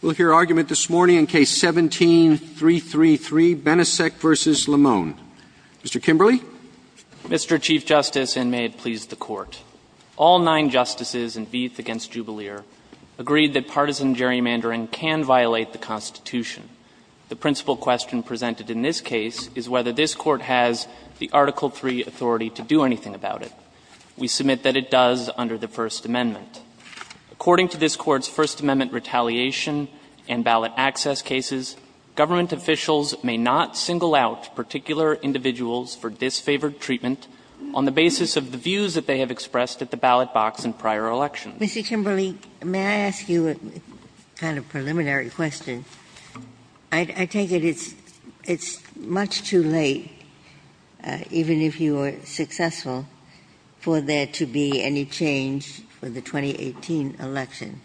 We'll hear argument this morning in Case 17-333, Benisek v. Lamone. Mr. Kimberley. Mr. Chief Justice, and may it please the Court, all nine Justices in Vieth v. Jubalier agreed that partisan gerrymandering can violate the Constitution. The principal question presented in this case is whether this Court has the Article III authority to do anything about it. We submit that it does under the First Amendment. According to this Court's First Amendment retaliation and ballot access cases, government officials may not single out particular individuals for disfavored treatment on the basis of the views that they have expressed at the ballot box in prior elections. Ginsburg. Mr. Kimberley, may I ask you a kind of preliminary question? I take it it's much too late, even if you are successful, for there to be any change for the 2018 election.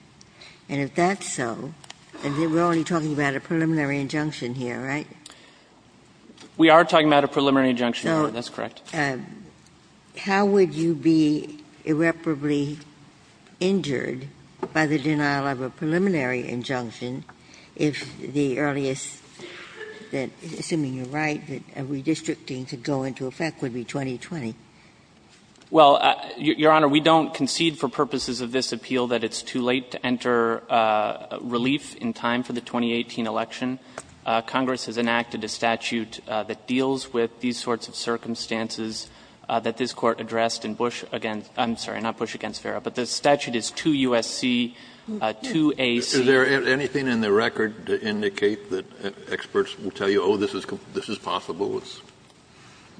And if that's so, then we're only talking about a preliminary injunction here, right? Kimberley. We are talking about a preliminary injunction, Your Honor. That's correct. Ginsburg. So how would you be irreparably injured by the denial of a preliminary injunction if the earliest, assuming you're right, redistricting to go into effect would be 2020? Kimberley. Well, Your Honor, we don't concede for purposes of this appeal that it's too late to enter relief in time for the 2018 election. Congress has enacted a statute that deals with these sorts of circumstances that this Court addressed in Bush against – I'm sorry, not Bush against Farah, but the statute is 2 U.S.C., 2 A.C. Kennedy. Is there anything in the record to indicate that experts will tell you, oh, this is possible? Kimberley.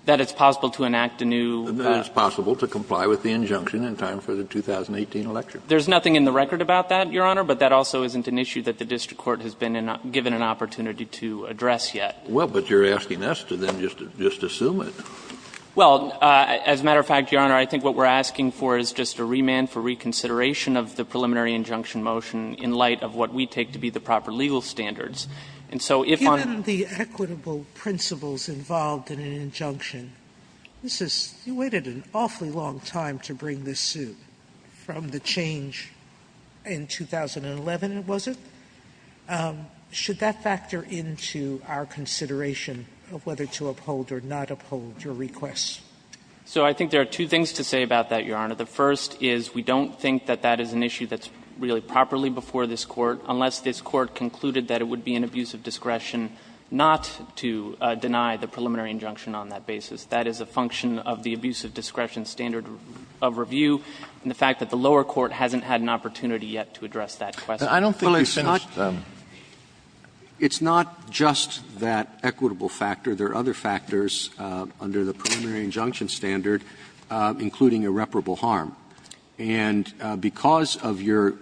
That it's possible to enact a new – Kennedy. That it's possible to comply with the injunction in time for the 2018 election. Kimberley. There's nothing in the record about that, Your Honor, but that also isn't an issue that the district court has been given an opportunity to address yet. Kennedy. Well, but you're asking us to then just assume it. Kimberley. Well, as a matter of fact, Your Honor, I think what we're asking for is just a remand for reconsideration of the preliminary injunction motion in light of what we take to be the proper legal standards. And so if on – Sotomayor. Given the equitable principles involved in an injunction, this is – you waited an awfully long time to bring this suit from the change in 2011, was it? Should that factor into our consideration of whether to uphold or not uphold your requests? Kimberley. So I think there are two things to say about that, Your Honor. The first is we don't think that that is an issue that's really properly before this Court, unless this Court concluded that it would be an abuse of discretion not to deny the preliminary injunction on that basis. That is a function of the abuse of discretion standard of review, and the fact that the lower court hasn't had an opportunity yet to address that question. Scalia. I don't think it's not – it's not just that equitable factor. There are other factors under the preliminary injunction standard, including irreparable harm. And because of your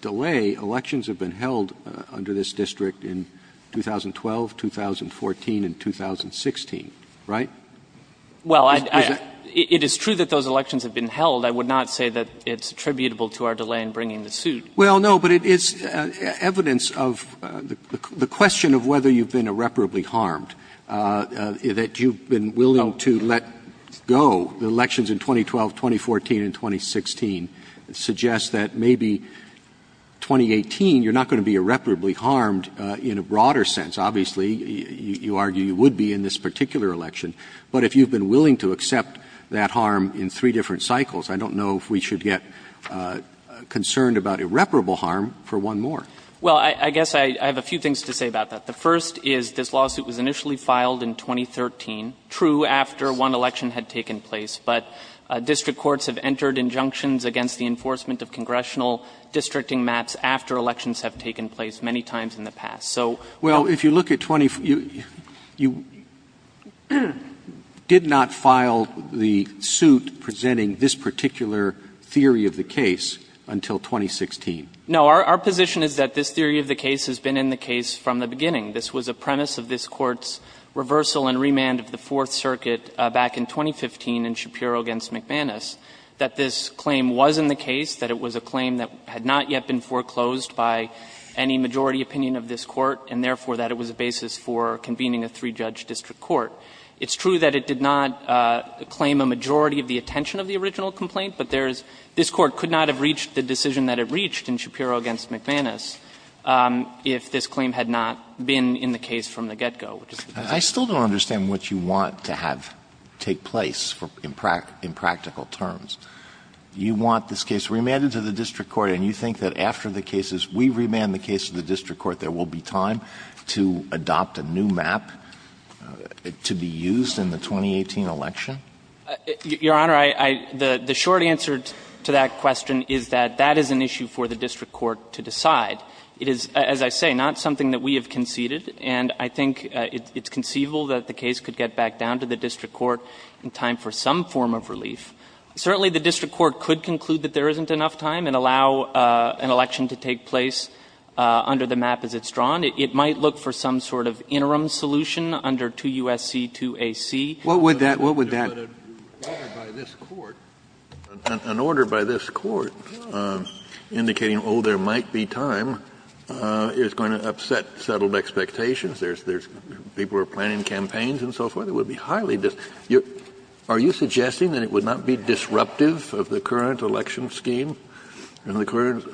delay, elections have been held under this district in 2012, 2014, and 2016, right? Kimberley. Well, I – it is true that those elections have been held. I would not say that it's attributable to our delay in bringing the suit. Scalia. Well, no, but it's evidence of the question of whether you've been irreparably harmed, that you've been willing to let go. The elections in 2012, 2014, and 2016 suggest that maybe 2018 you're not going to be irreparably harmed in a broader sense. Obviously, you argue you would be in this particular election. But if you've been willing to accept that harm in three different cycles, I don't know if we should get concerned about irreparable harm for one more. Kimberley. Well, I guess I have a few things to say about that. The first is this lawsuit was initially filed in 2013, true, after one election had taken place. But district courts have entered injunctions against the enforcement of congressional districting maps after elections have taken place many times in the past. So – Roberts. Well, if you look at – you did not file the suit presenting this particular theory of the case until 2016. No. Our position is that this theory of the case has been in the case from the beginning. This was a premise of this Court's reversal and remand of the Fourth Circuit back in 2015 in Shapiro v. McManus, that this claim was in the case, that it was a claim that had not yet been foreclosed by any majority opinion of this Court, and therefore that it was a basis for convening a three-judge district court. It's true that it did not claim a majority of the attention of the original complaint, but there's – this Court could not have reached the decision that it reached in Shapiro v. McManus if this claim had not been in the case from the get-go. I still don't understand what you want to have take place in practical terms. You want this case remanded to the district court, and you think that after the cases we remand the case to the district court, there will be time to adopt a new map to be used in the 2018 election? Your Honor, I – the short answer to that question is that that is an issue for the district court to decide. It is, as I say, not something that we have conceded, and I think it's conceivable that the case could get back down to the district court in time for some form of relief. Certainly, the district court could conclude that there isn't enough time and allow an election to take place under the map as it's drawn. It might look for some sort of interim solution under 2 U.S.C., 2 A.C. What would that – what would that – An order by this court indicating, oh, there might be time is going to upset settled expectations, there's – people are planning campaigns and so forth. It would be highly – are you suggesting that it would not be disruptive of the current election scheme and the current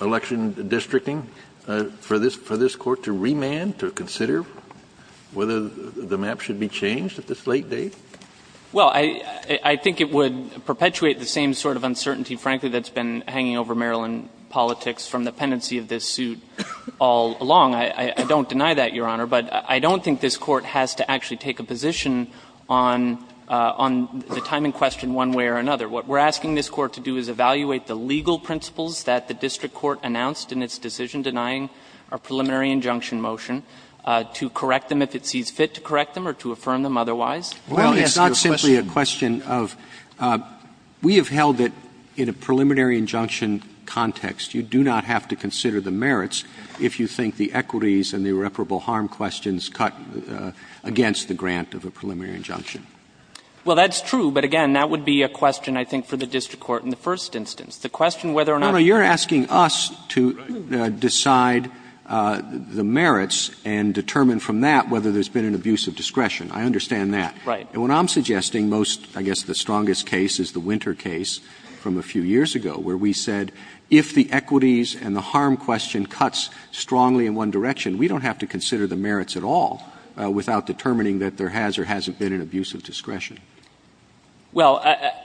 election districting for this court to remand, to consider whether the map should be changed at this late date? Well, I think it would perpetuate the same sort of uncertainty, frankly, that's been hanging over Maryland politics from the pendency of this suit all along. I don't deny that, Your Honor, but I don't think this court has to actually take a position on the time in question one way or another. What we're asking this court to do is evaluate the legal principles that the district court announced in its decision denying a preliminary injunction motion, to correct them if it sees fit to correct them or to affirm them otherwise. Well, it's not simply a question of – we have held it in a preliminary injunction context. You do not have to consider the merits if you think the equities and the irreparable harm questions cut against the grant of a preliminary injunction. Well, that's true, but again, that would be a question, I think, for the district court in the first instance. The question whether or not – Your Honor, you're asking us to decide the merits and determine from that whether there's been an abuse of discretion. I understand that. Right. And what I'm suggesting most, I guess the strongest case is the Winter case from a few years ago, where we said if the equities and the harm question cuts strongly in one direction, we don't have to consider the merits at all without determining that there has or hasn't been an abuse of discretion. Well,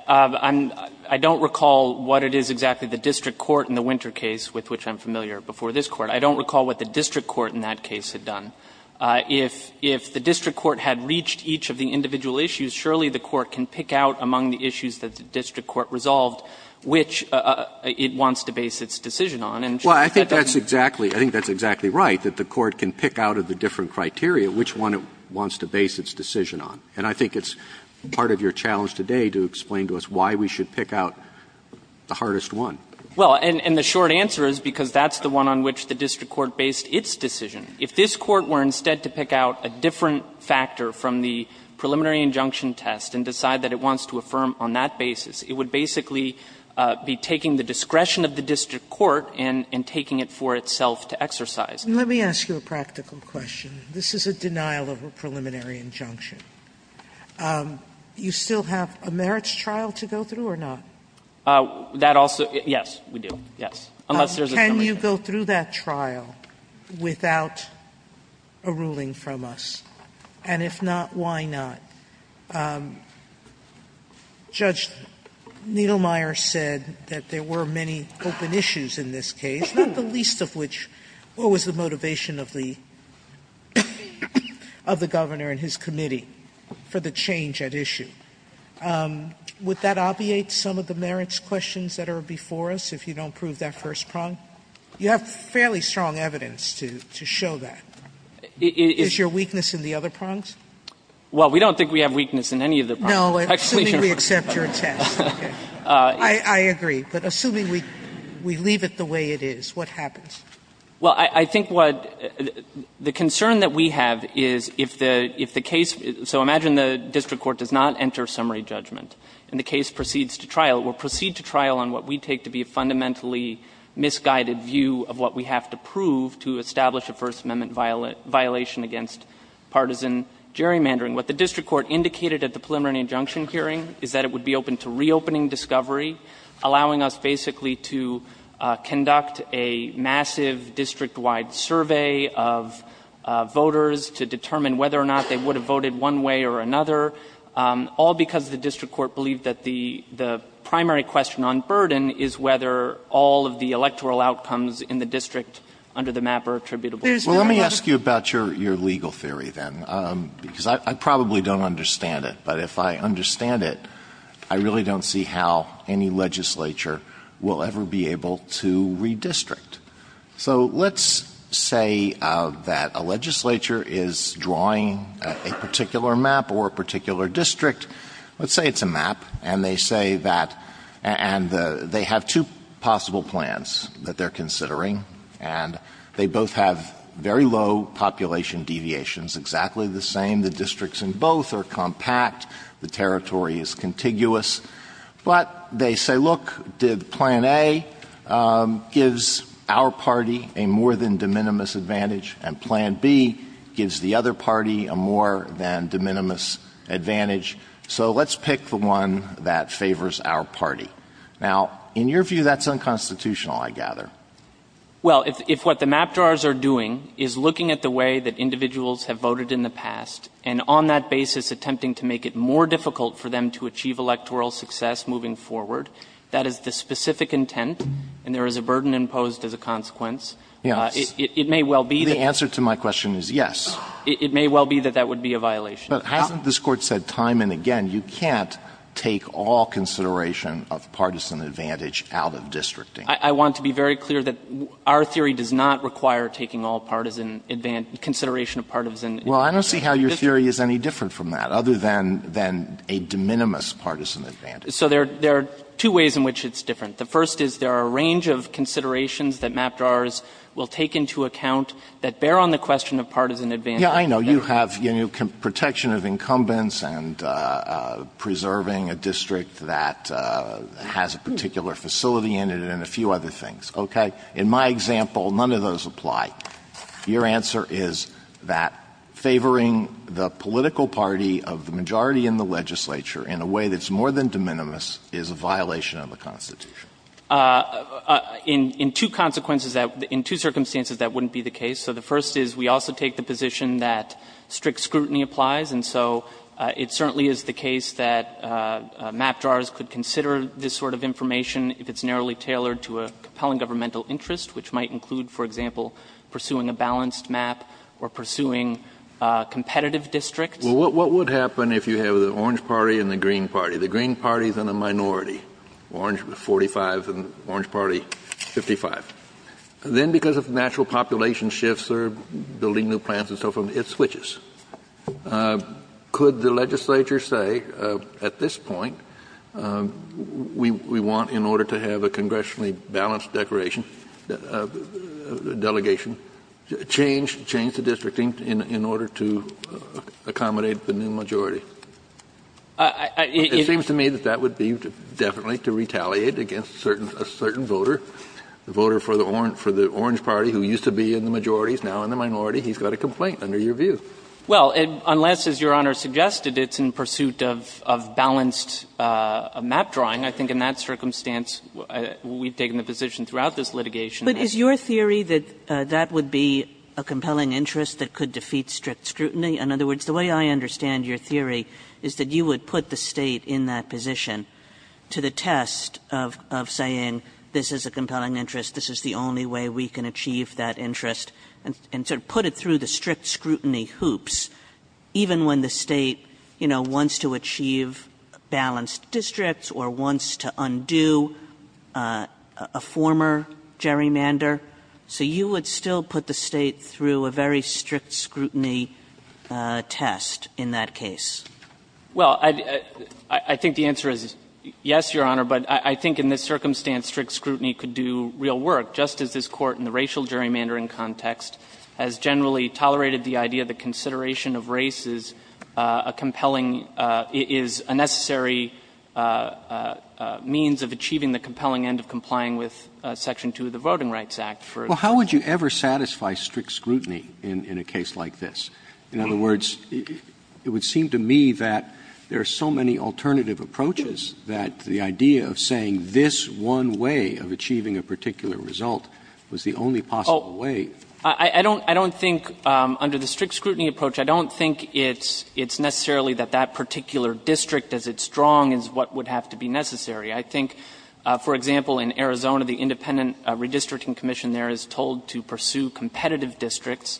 I'm – I don't recall what it is exactly the district court in the Winter case, with which I'm familiar, before this Court. I don't recall what the district court in that case had done. If the district court had reached each of the individual issues, surely the Court can pick out among the issues that the district court resolved which it wants to base its decision on. And surely that doesn't mean that the district court can't pick out among the issues that the district court resolved which it wants to base its decision on. And I think it's part of your challenge today to explain to us why we should pick out the hardest one. Well, and the short answer is because that's the one on which the district court based its decision. If this Court were instead to pick out a different factor from the preliminary injunction test and decide that it wants to affirm on that basis, it would basically be taking the discretion of the district court and taking it for itself to exercise. Sotomayor, let me ask you a practical question. This is a denial of a preliminary injunction. You still have a merits trial to go through or not? That also yes, we do, yes, unless there's a summary. Can you go through that trial without a ruling from us? And if not, why not? Judge Niedlmeyer said that there were many open issues in this case, not the least of which, what was the motivation of the governor and his committee for the change at issue? Would that obviate some of the merits questions that are before us if you don't prove that first prong? You have fairly strong evidence to show that. Is your weakness in the other prongs? Well, we don't think we have weakness in any of the prongs. No, assuming we accept your test. I agree. But assuming we leave it the way it is, what happens? Well, I think what the concern that we have is if the case, so imagine the district court does not enter summary judgment and the case proceeds to trial. It will proceed to trial on what we take to be a fundamentally misguided view of what we have to prove to establish a First Amendment violation against partisan gerrymandering. What the district court indicated at the preliminary injunction hearing is that it would be open to reopening discovery, allowing us basically to conduct a massive district-wide survey of voters to determine whether or not they would have voted one way or another, all because the district court believed that the primary question on burden is whether all of the electoral outcomes in the district under the MAP are attributable. Well, let me ask you about your legal theory, then, because I probably don't understand it. But if I understand it, I really don't see how any legislature will ever be able to redistrict. So let's say that a legislature is drawing a particular MAP or a particular district. Let's say it's a MAP, and they say that they have two possible plans that they're considering, and they both have very low population deviations, exactly the same. And the districts in both are compact. The territory is contiguous. But they say, look, did Plan A gives our party a more than de minimis advantage, and Plan B gives the other party a more than de minimis advantage. So let's pick the one that favors our party. Now, in your view, that's unconstitutional, I gather. Well, if what the MAP drawers are doing is looking at the way that individuals have voted in the past, and on that basis attempting to make it more difficult for them to achieve electoral success moving forward, that is the specific intent, and there is a burden imposed as a consequence, it may well be that that would be a violation. But hasn't this Court said time and again you can't take all consideration of partisan advantage out of districting? I want to be very clear that our theory does not require taking all partisan advantage, consideration of partisan advantage. Well, I don't see how your theory is any different from that, other than a de minimis partisan advantage. So there are two ways in which it's different. The first is there are a range of considerations that MAP drawers will take into account that bear on the question of partisan advantage. Yes, I know. You have protection of incumbents and preserving a district that has a particular facility in it and a few other things, okay? In my example, none of those apply. Your answer is that favoring the political party of the majority in the legislature in a way that's more than de minimis is a violation of the Constitution. In two consequences that — in two circumstances that wouldn't be the case. So the first is we also take the position that strict scrutiny applies, and so it certainly is the case that MAP drawers could consider this sort of information if it's narrowly pursuing a balanced MAP or pursuing competitive districts. Well, what would happen if you have the Orange Party and the Green Party? The Green Party is in a minority, Orange 45 and Orange Party 55. Then because of natural population shifts or building new plants and so forth, it switches. Could the legislature say at this point we want, in order to have a congressionally balanced delegation, change the districting in order to accommodate the new majority? It seems to me that that would be definitely to retaliate against a certain voter, the voter for the Orange Party who used to be in the majorities, now in the minority. He's got a complaint under your view. Well, unless, as Your Honor suggested, it's in pursuit of balanced MAP drawing, I think in that circumstance we've taken the position throughout this litigation that's the case. But is your theory that that would be a compelling interest that could defeat strict scrutiny? In other words, the way I understand your theory is that you would put the State in that position to the test of saying this is a compelling interest, this is the only way we can achieve that interest, and sort of put it through the strict scrutiny hoops, even when the State, you know, wants to achieve balanced districts or wants to undo a former gerrymander. So you would still put the State through a very strict scrutiny test in that case? Well, I think the answer is yes, Your Honor, but I think in this circumstance strict scrutiny could do real work, just as this Court in the racial gerrymandering context has generally tolerated the idea that consideration of race is a compelling – is a necessary means of achieving the compelling end of complying with Section 2 of the Voting Rights Act. Well, how would you ever satisfy strict scrutiny in a case like this? In other words, it would seem to me that there are so many alternative approaches that the idea of saying this one way of achieving a particular result was the only possible way. I don't think under the strict scrutiny approach, I don't think it's necessarily that that particular district, as it's strong, is what would have to be necessary. I think, for example, in Arizona, the Independent Redistricting Commission there is told to pursue competitive districts.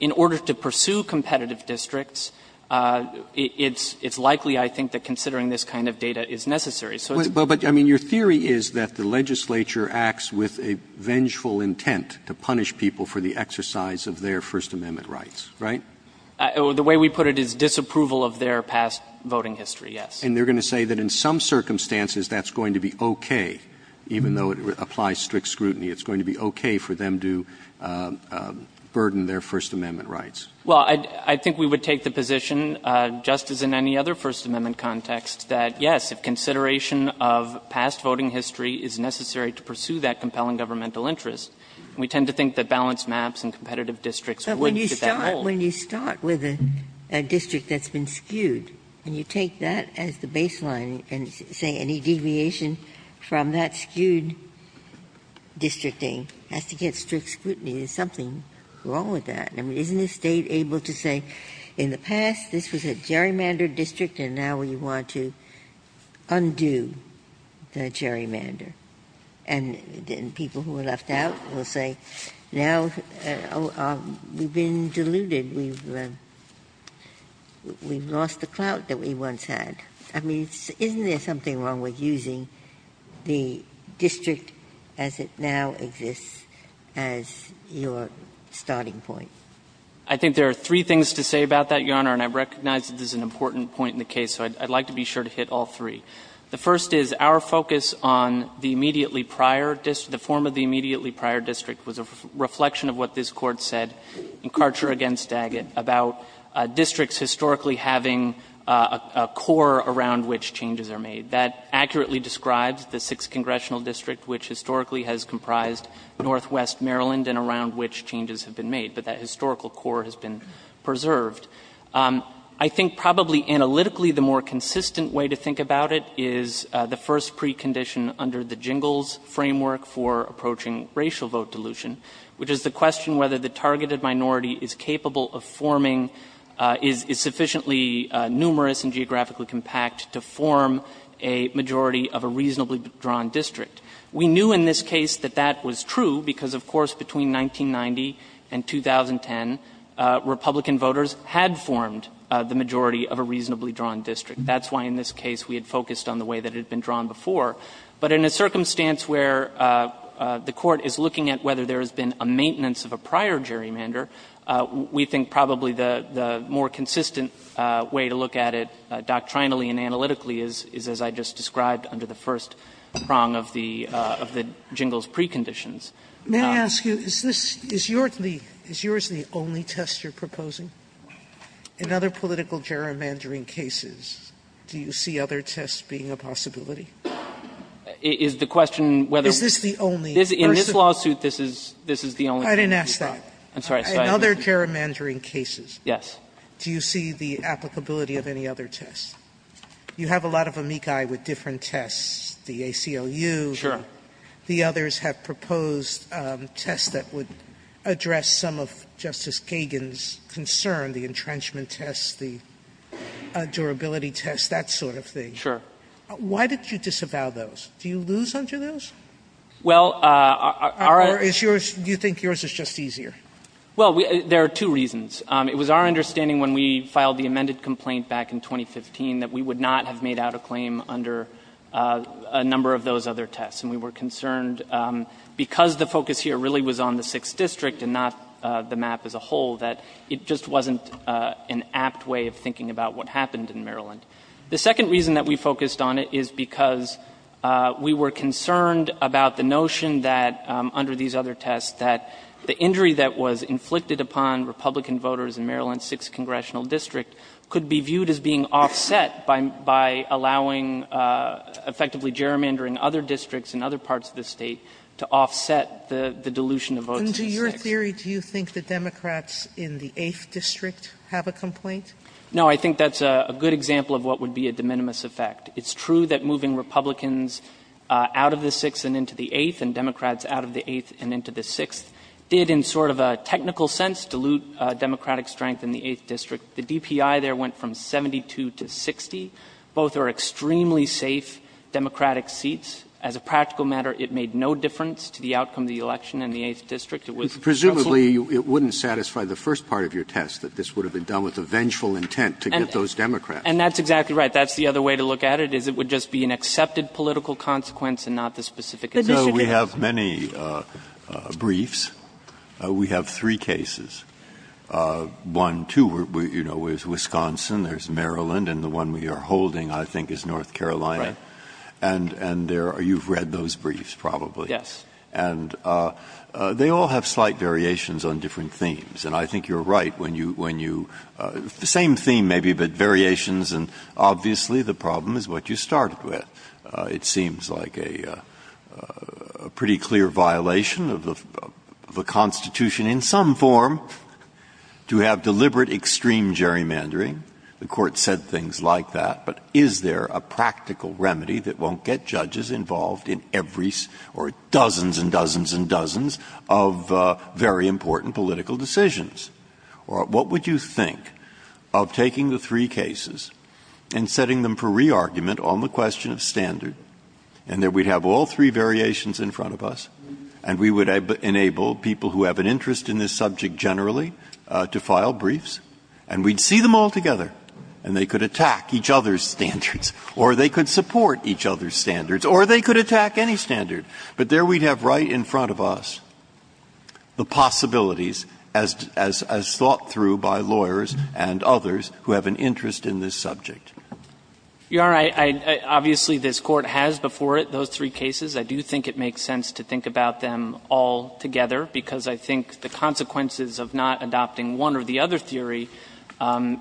In order to pursue competitive districts, it's likely, I think, that considering this kind of data is necessary. So it's – But, I mean, your theory is that the legislature acts with a vengeful intent to punish people for the exercise of their First Amendment rights, right? The way we put it is disapproval of their past voting history, yes. And they're going to say that in some circumstances that's going to be okay, even though it applies strict scrutiny. It's going to be okay for them to burden their First Amendment rights. Well, I think we would take the position, just as in any other First Amendment context, that, yes, if consideration of past voting history is necessary to pursue that compelling governmental interest, we tend to think that balanced maps and competitive districts would get that role. But when you start with a district that's been skewed, and you take that as the baseline and say any deviation from that skewed districting has to get strict scrutiny, there's something wrong with that. I mean, isn't the State able to say, in the past this was a gerrymandered district and now we want to undo the gerrymander? And then people who are left out will say, now we've been deluded. We've lost the clout that we once had. I mean, isn't there something wrong with using the district as it now exists as your starting point? I think there are three things to say about that, Your Honor, and I recognize that this is an important point in the case, so I'd like to be sure to hit all three. The first is our focus on the immediately prior district, the form of the immediately prior district was a reflection of what this Court said in Karcher v. Daggett about districts historically having a core around which changes are made. That accurately describes the 6th Congressional District, which historically has comprised northwest Maryland and around which changes have been made, but that historical core has been preserved. I think probably analytically the more consistent way to think about it is the first precondition under the Jingles framework for approaching racial vote dilution, which is the question whether the targeted minority is capable of forming, is sufficiently numerous and geographically compact to form a majority of a reasonably drawn district. We knew in this case that that was true because, of course, between 1990 and 2010, Republican voters had formed the majority of a reasonably drawn district. That's why in this case we had focused on the way that it had been drawn before. But in a circumstance where the Court is looking at whether there has been a maintenance of a prior gerrymander, we think probably the more consistent way to look at it doctrinally and analytically is as I just described under the first prong of the Jingles preconditions. Sotomayor, is this, is yours the only test you're proposing? In other political gerrymandering cases, do you see other tests being a possibility? Is the question whether this is the only? In this lawsuit, this is the only test. I didn't ask that. In other gerrymandering cases, do you see the applicability of any other test? You have a lot of amici with different tests, the ACLU. Sure. The others have proposed tests that would address some of Justice Kagan's concern, the entrenchment tests, the durability tests, that sort of thing. Sure. Why did you disavow those? Do you lose under those? Well, our other issues. Or do you think yours is just easier? Well, there are two reasons. It was our understanding when we filed the amended complaint back in 2015 that we would not have made out a claim under a number of those other tests. And we were concerned because the focus here really was on the 6th District and not the map as a whole, that it just wasn't an apt way of thinking about what happened in Maryland. The second reason that we focused on it is because we were concerned about the notion that under these other tests that the injury that was inflicted upon Republican voters in Maryland's 6th Congressional District could be viewed as being offset by allowing, effectively gerrymandering other districts in other parts of the State to offset the dilution of votes in the 6th. And to your theory, do you think the Democrats in the 8th District have a complaint? No. I think that's a good example of what would be a de minimis effect. It's true that moving Republicans out of the 6th and into the 8th and Democrats out of the 8th and into the 6th did in sort of a technical sense dilute Democratic strength in the 8th District. The DPI there went from 72 to 60. Both are extremely safe Democratic seats. As a practical matter, it made no difference to the outcome of the election in the 8th District. It was just a little bit. Presumably, it wouldn't satisfy the first part of your test, that this would have been done with a vengeful intent to get those Democrats. And that's exactly right. That's the other way to look at it, is it would just be an accepted political consequence and not the specific issue. The district is. We have many briefs. We have three cases. One, too, you know, is Wisconsin. There's Maryland. And the one we are holding, I think, is North Carolina. And there are you've read those briefs probably. Yes. And they all have slight variations on different themes. And I think you're right when you the same theme maybe, but variations. And obviously, the problem is what you started with. It seems like a pretty clear violation of the Constitution in some form. To have deliberate extreme gerrymandering, the Court said things like that. But is there a practical remedy that won't get judges involved in every or dozens and dozens and dozens of very important political decisions? Or what would you think of taking the three cases and setting them for re-argument on the question of standard and that we'd have all three variations in front of us and we would enable people who have an interest in this subject generally to file briefs and we'd see them all together and they could attack each other's standards or they could support each other's standards or they could attack any standard. But there we'd have right in front of us the possibilities as thought through by lawyers and others who have an interest in this subject. You are right. Obviously, this Court has before it those three cases. I do think it makes sense to think about them all together because I think the consequences of not adopting one or the other theory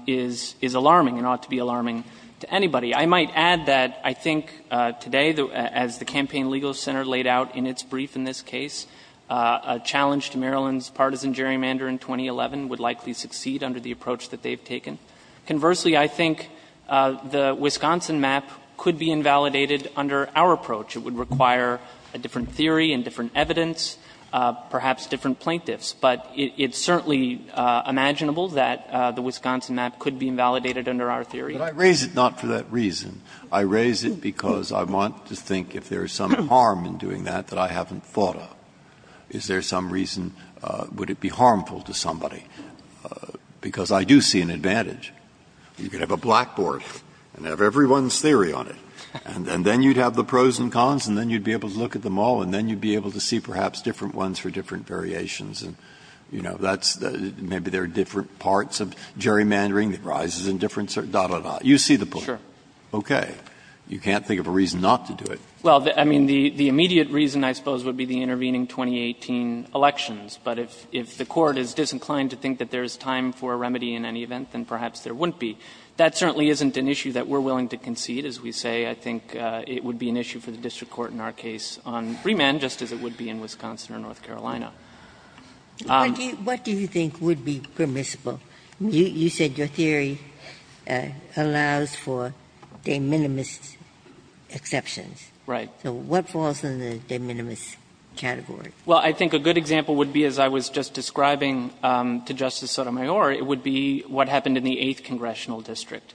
is alarming and ought to be alarming to anybody. I might add that I think today, as the Campaign Legal Center laid out in its brief in this case, a challenge to Maryland's partisan gerrymander in 2011 would likely succeed under the approach that they've taken. Conversely, I think the Wisconsin map could be invalidated under our approach. It would require a different theory and different evidence, perhaps different plaintiffs, but it's certainly imaginable that the Wisconsin map could be invalidated under our theory. Breyer, but I raise it not for that reason. I raise it because I want to think if there is some harm in doing that that I haven't thought of. Is there some reason, would it be harmful to somebody? Because I do see an advantage. You can have a blackboard and have everyone's theory on it and then you'd have the pros and cons and then you'd be able to look at them all and then you'd be able to see perhaps different ones for different variations and, you know, that's maybe there are different parts of gerrymandering that rises in different certain, da, da, da. You see the point. Okay. You can't think of a reason not to do it. Well, I mean, the immediate reason I suppose would be the intervening 2018 elections. But if the Court is disinclined to think that there is time for a remedy in any event, then perhaps there wouldn't be. That certainly isn't an issue that we're willing to concede, as we say. I think it would be an issue for the district court in our case on Fremont, just as it would be in Wisconsin or North Carolina. Ginsburg. What do you think would be permissible? You said your theory allows for de minimis exceptions. Right. So what falls in the de minimis category? Well, I think a good example would be, as I was just describing to Justice Sotomayor, it would be what happened in the 8th Congressional District.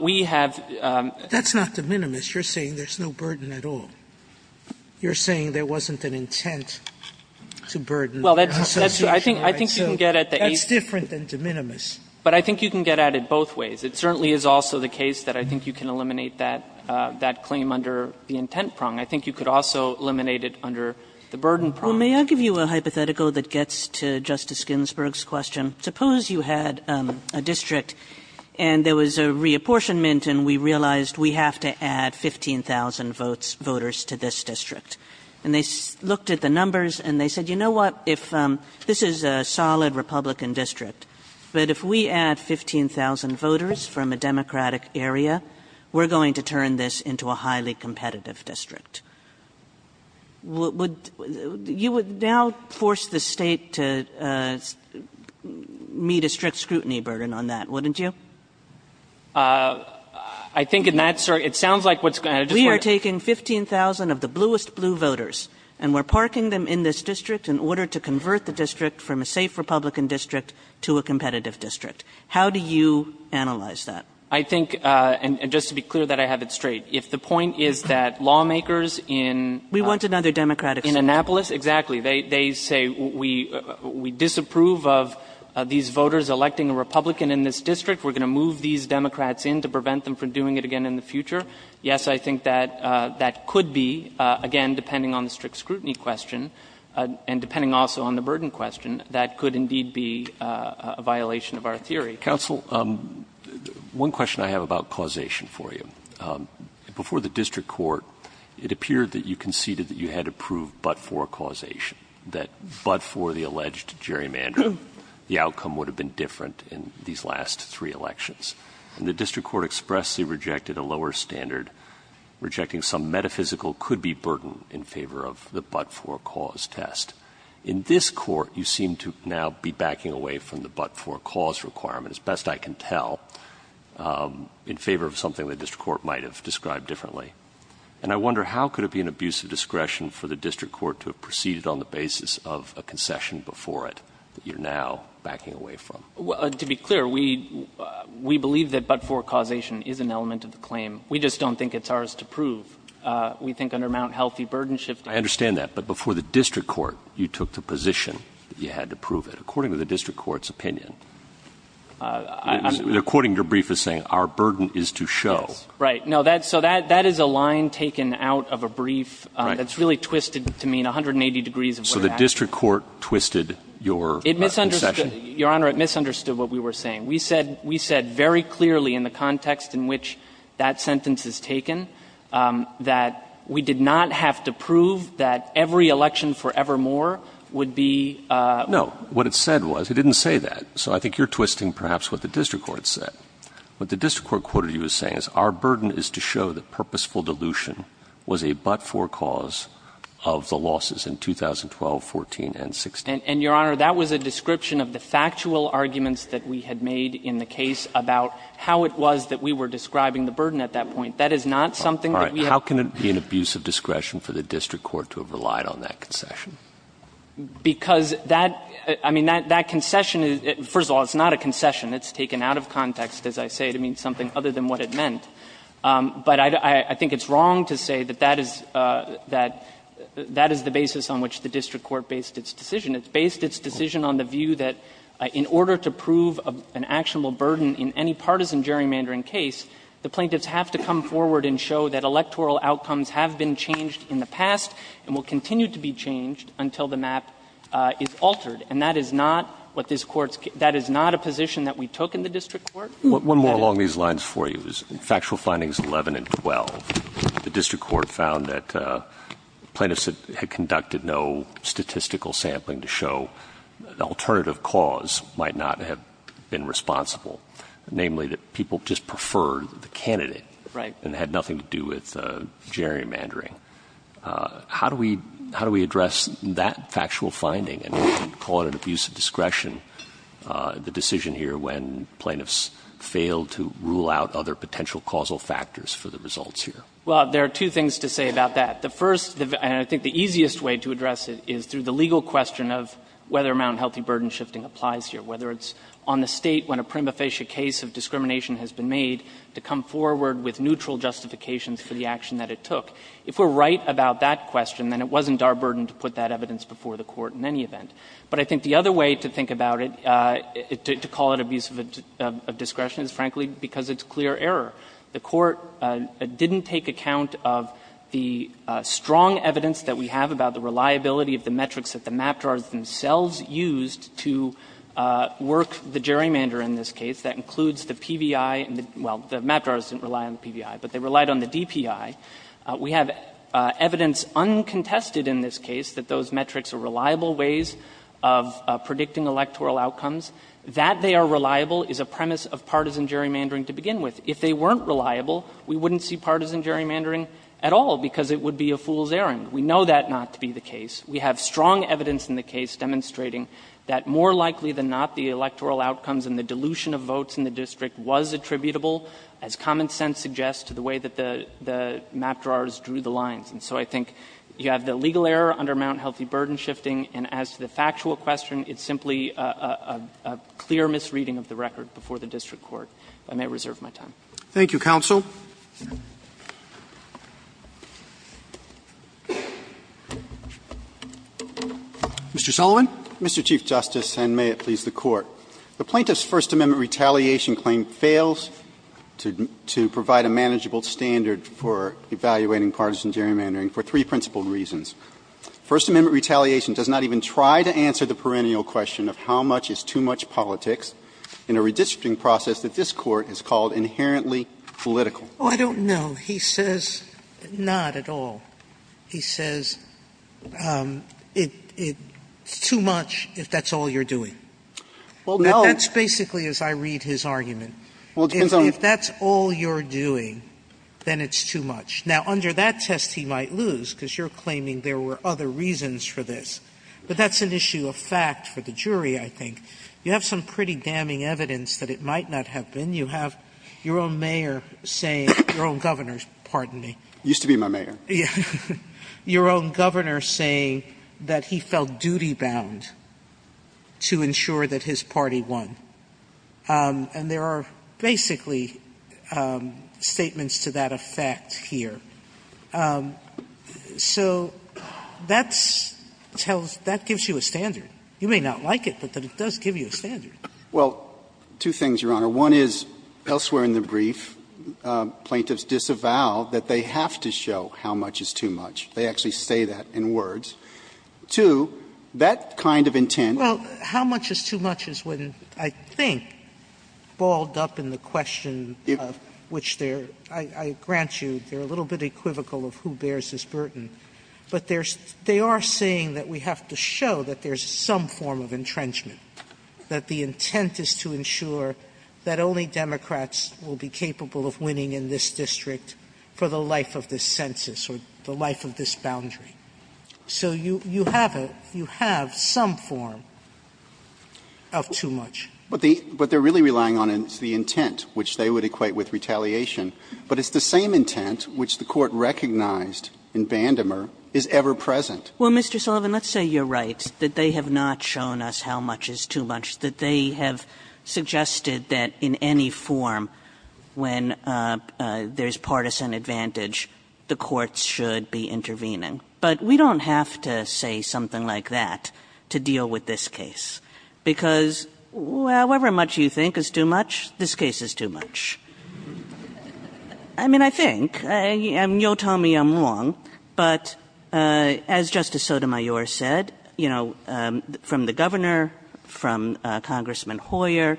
We have the That's not de minimis. You're saying there's no burden at all. You're saying there wasn't an intent to burden the Constitution. Well, I think you can get at the 8th. That's different than de minimis. But I think you can get at it both ways. It certainly is also the case that I think you can eliminate that claim under the intent prong. I think you could also eliminate it under the burden prong. Well, may I give you a hypothetical that gets to Justice Ginsburg's question? Suppose you had a district and there was a reapportionment and we realized we have to add 15,000 votes, voters to this district. And they looked at the numbers and they said, you know what, if this is a solid Republican district, but if we add 15,000 voters from a Democratic area, we're going to turn this into a highly competitive district. Would you now force the State to meet a strict scrutiny burden on that, wouldn't you? I think in that, sir, it sounds like what's going to We are taking 15,000 of the bluest blue voters and we're parking them in this district in order to convert the district from a safe Republican district to a competitive district. How do you analyze that? I think, and just to be clear that I have it straight, if the point is that lawmakers in We want another Democratic. In Annapolis, exactly. They say we disapprove of these voters electing a Republican in this district. We're going to move these Democrats in to prevent them from doing it again in the future. Yes, I think that that could be, again, depending on the strict scrutiny question and depending also on the burden question, that could indeed be a violation of our theory. Counsel, one question I have about causation for you. Before the district court, it appeared that you conceded that you had to prove but for causation, that but for the alleged gerrymandering, the outcome would have been different in these last three elections. And the district court expressly rejected a lower standard, rejecting some metaphysical could-be burden in favor of the but-for-cause test. In this court, you seem to now be backing away from the but-for-cause requirement, as best I can tell, in favor of something the district court might have described differently. And I wonder, how could it be an abuse of discretion for the district court to have proceeded on the basis of a concession before it that you're now backing away from? Well, to be clear, we believe that but-for causation is an element of the claim. We just don't think it's ours to prove. We think under Mt. Healthy, burden shifting. I understand that. But before the district court, you took the position that you had to prove it. According to the district court's opinion, according to your brief, it's saying our burden is to show. Right. No, that's so that that is a line taken out of a brief that's really twisted to mean 180 degrees of where the action is. So the district court twisted your concession? Your Honor, it misunderstood what we were saying. We said very clearly in the context in which that sentence is taken that we did not have to prove that every election forevermore would be no. What it said was, it didn't say that. So I think you're twisting perhaps what the district court said. What the district court quoted you as saying is our burden is to show that purposeful dilution was a but-for cause of the losses in 2012, 14, and 16. And, Your Honor, that was a description of the factual arguments that we had made in the case about how it was that we were describing the burden at that point. That is not something that we have. All right. How can it be an abuse of discretion for the district court to have relied on that concession? Because that – I mean, that concession is – first of all, it's not a concession. It's taken out of context, as I say, to mean something other than what it meant. But I think it's wrong to say that that is the basis on which the district court based its decision. It based its decision on the view that in order to prove an actionable burden in any partisan gerrymandering case, the plaintiffs have to come forward and show that electoral to be changed until the map is altered. And that is not what this Court's – that is not a position that we took in the district court. One more along these lines for you is in factual findings 11 and 12, the district court found that plaintiffs had conducted no statistical sampling to show an alternative cause might not have been responsible, namely that people just preferred the candidate. Right. And it had nothing to do with gerrymandering. How do we – how do we address that factual finding and call it an abuse of discretion, the decision here when plaintiffs failed to rule out other potential causal factors for the results here? Well, there are two things to say about that. The first – and I think the easiest way to address it is through the legal question of whether or not healthy burden shifting applies here, whether it's on the State when a prima facie case of discrimination has been made to come forward with neutral justifications for the action that it took. If we're right about that question, then it wasn't our burden to put that evidence before the Court in any event. But I think the other way to think about it, to call it abuse of discretion, is frankly because it's clear error. The Court didn't take account of the strong evidence that we have about the reliability of the metrics that the map drawers themselves used to work the gerrymanderer in this case. That includes the PVI and the – well, the map drawers didn't rely on the PVI, but they relied on the DPI. We have evidence uncontested in this case that those metrics are reliable ways of predicting electoral outcomes. That they are reliable is a premise of partisan gerrymandering to begin with. If they weren't reliable, we wouldn't see partisan gerrymandering at all because it would be a fool's errand. We know that not to be the case. We have strong evidence in the case demonstrating that more likely than not the electoral outcomes and the dilution of votes in the district was attributable, as common evidence, to the fact that map drawers drew the lines. And so I think you have the legal error under Mt. Healthy Burden Shifting, and as to the factual question, it's simply a clear misreading of the record before the district court. I may reserve my time. Roberts. Thank you, counsel. Mr. Chief Justice, and may it please the Court. The plaintiff's First Amendment retaliation claim fails to provide a manageable standard for evaluating partisan gerrymandering for three principled reasons. First Amendment retaliation does not even try to answer the perennial question of how much is too much politics in a redistricting process that this Court has called inherently political. Oh, I don't know. He says not at all. He says it's too much if that's all you're doing. Well, that's basically as I read his argument. If that's all you're doing, then it's too much. Now, under that test, he might lose, because you're claiming there were other reasons for this. But that's an issue of fact for the jury, I think. You have some pretty damning evidence that it might not have been. You have your own mayor saying, your own governor, pardon me. He used to be my mayor. Your own governor saying that he felt duty-bound to ensure that his party won. And there are basically statements to that effect here. So that tells you, that gives you a standard. You may not like it, but it does give you a standard. Well, two things, Your Honor. One is, elsewhere in the brief, plaintiffs disavow that they have to show how much is too much. They actually say that in words. Two, that kind of intent. Well, how much is too much is when, I think, balled up in the question of which they're, I grant you, they're a little bit equivocal of who bears this burden. But they are saying that we have to show that there's some form of entrenchment, that the intent is to ensure that only Democrats will be capable of winning in this district for the life of this census or the life of this boundary. So you have a, you have some form of too much. But the, what they're really relying on is the intent, which they would equate with retaliation. But it's the same intent which the Court recognized in Bandemer is ever present. Kagan. Well, Mr. Sullivan, let's say you're right, that they have not shown us how much is too much, that they have suggested that in any form, when there's partisan advantage, the courts should be intervening. But we don't have to say something like that to deal with this case, because however much you think is too much, this case is too much. I mean, I think. You'll tell me I'm wrong, but as Justice Sotomayor said, you know, from the governor, from Congressman Hoyer,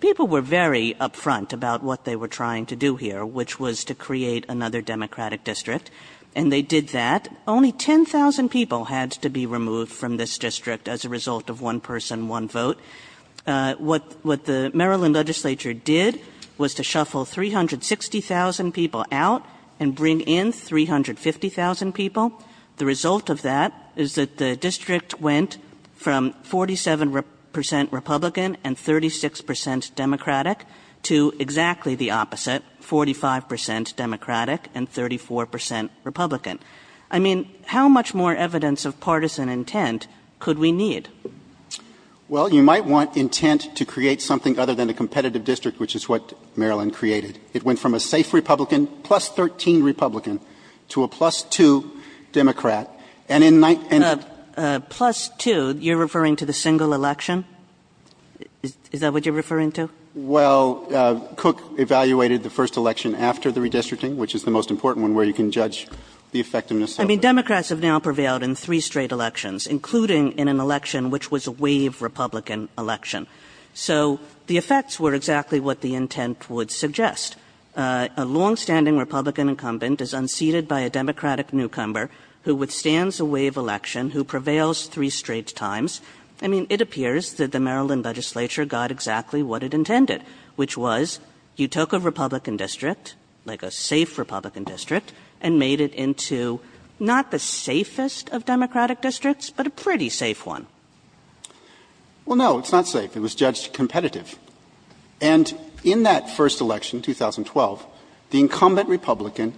people were very upfront about what they were trying to do here, which was to create another Democratic district. And they did that. Only 10,000 people had to be removed from this district as a result of one person, one vote. What the Maryland legislature did was to shuffle 360,000 people out and bring in 350,000 people. The result of that is that the district went from 47 percent Republican and 36 percent Democratic to exactly the opposite, 45 percent Democratic and 34 percent Republican. I mean, how much more evidence of partisan intent could we need? Well, you might want intent to create something other than a competitive district, which is what Maryland created. It went from a safe Republican, plus 13 Republican, to a plus-two Democrat. And in nine and. Plus-two, you're referring to the single election? Is that what you're referring to? Well, Cook evaluated the first election after the redistricting, which is the most important one where you can judge the effectiveness. I mean, Democrats have now prevailed in three straight elections, including in an election which was a wave Republican election. So, the effects were exactly what the intent would suggest. A long-standing Republican incumbent is unseated by a Democratic newcomer who withstands a wave election, who prevails three straight times. I mean, it appears that the Maryland legislature got exactly what it intended, which was, you took a Republican district, like a safe Republican district, and you made it into not the safest of Democratic districts, but a pretty safe one. Well, no, it's not safe. It was judged competitive. And in that first election, 2012, the incumbent Republican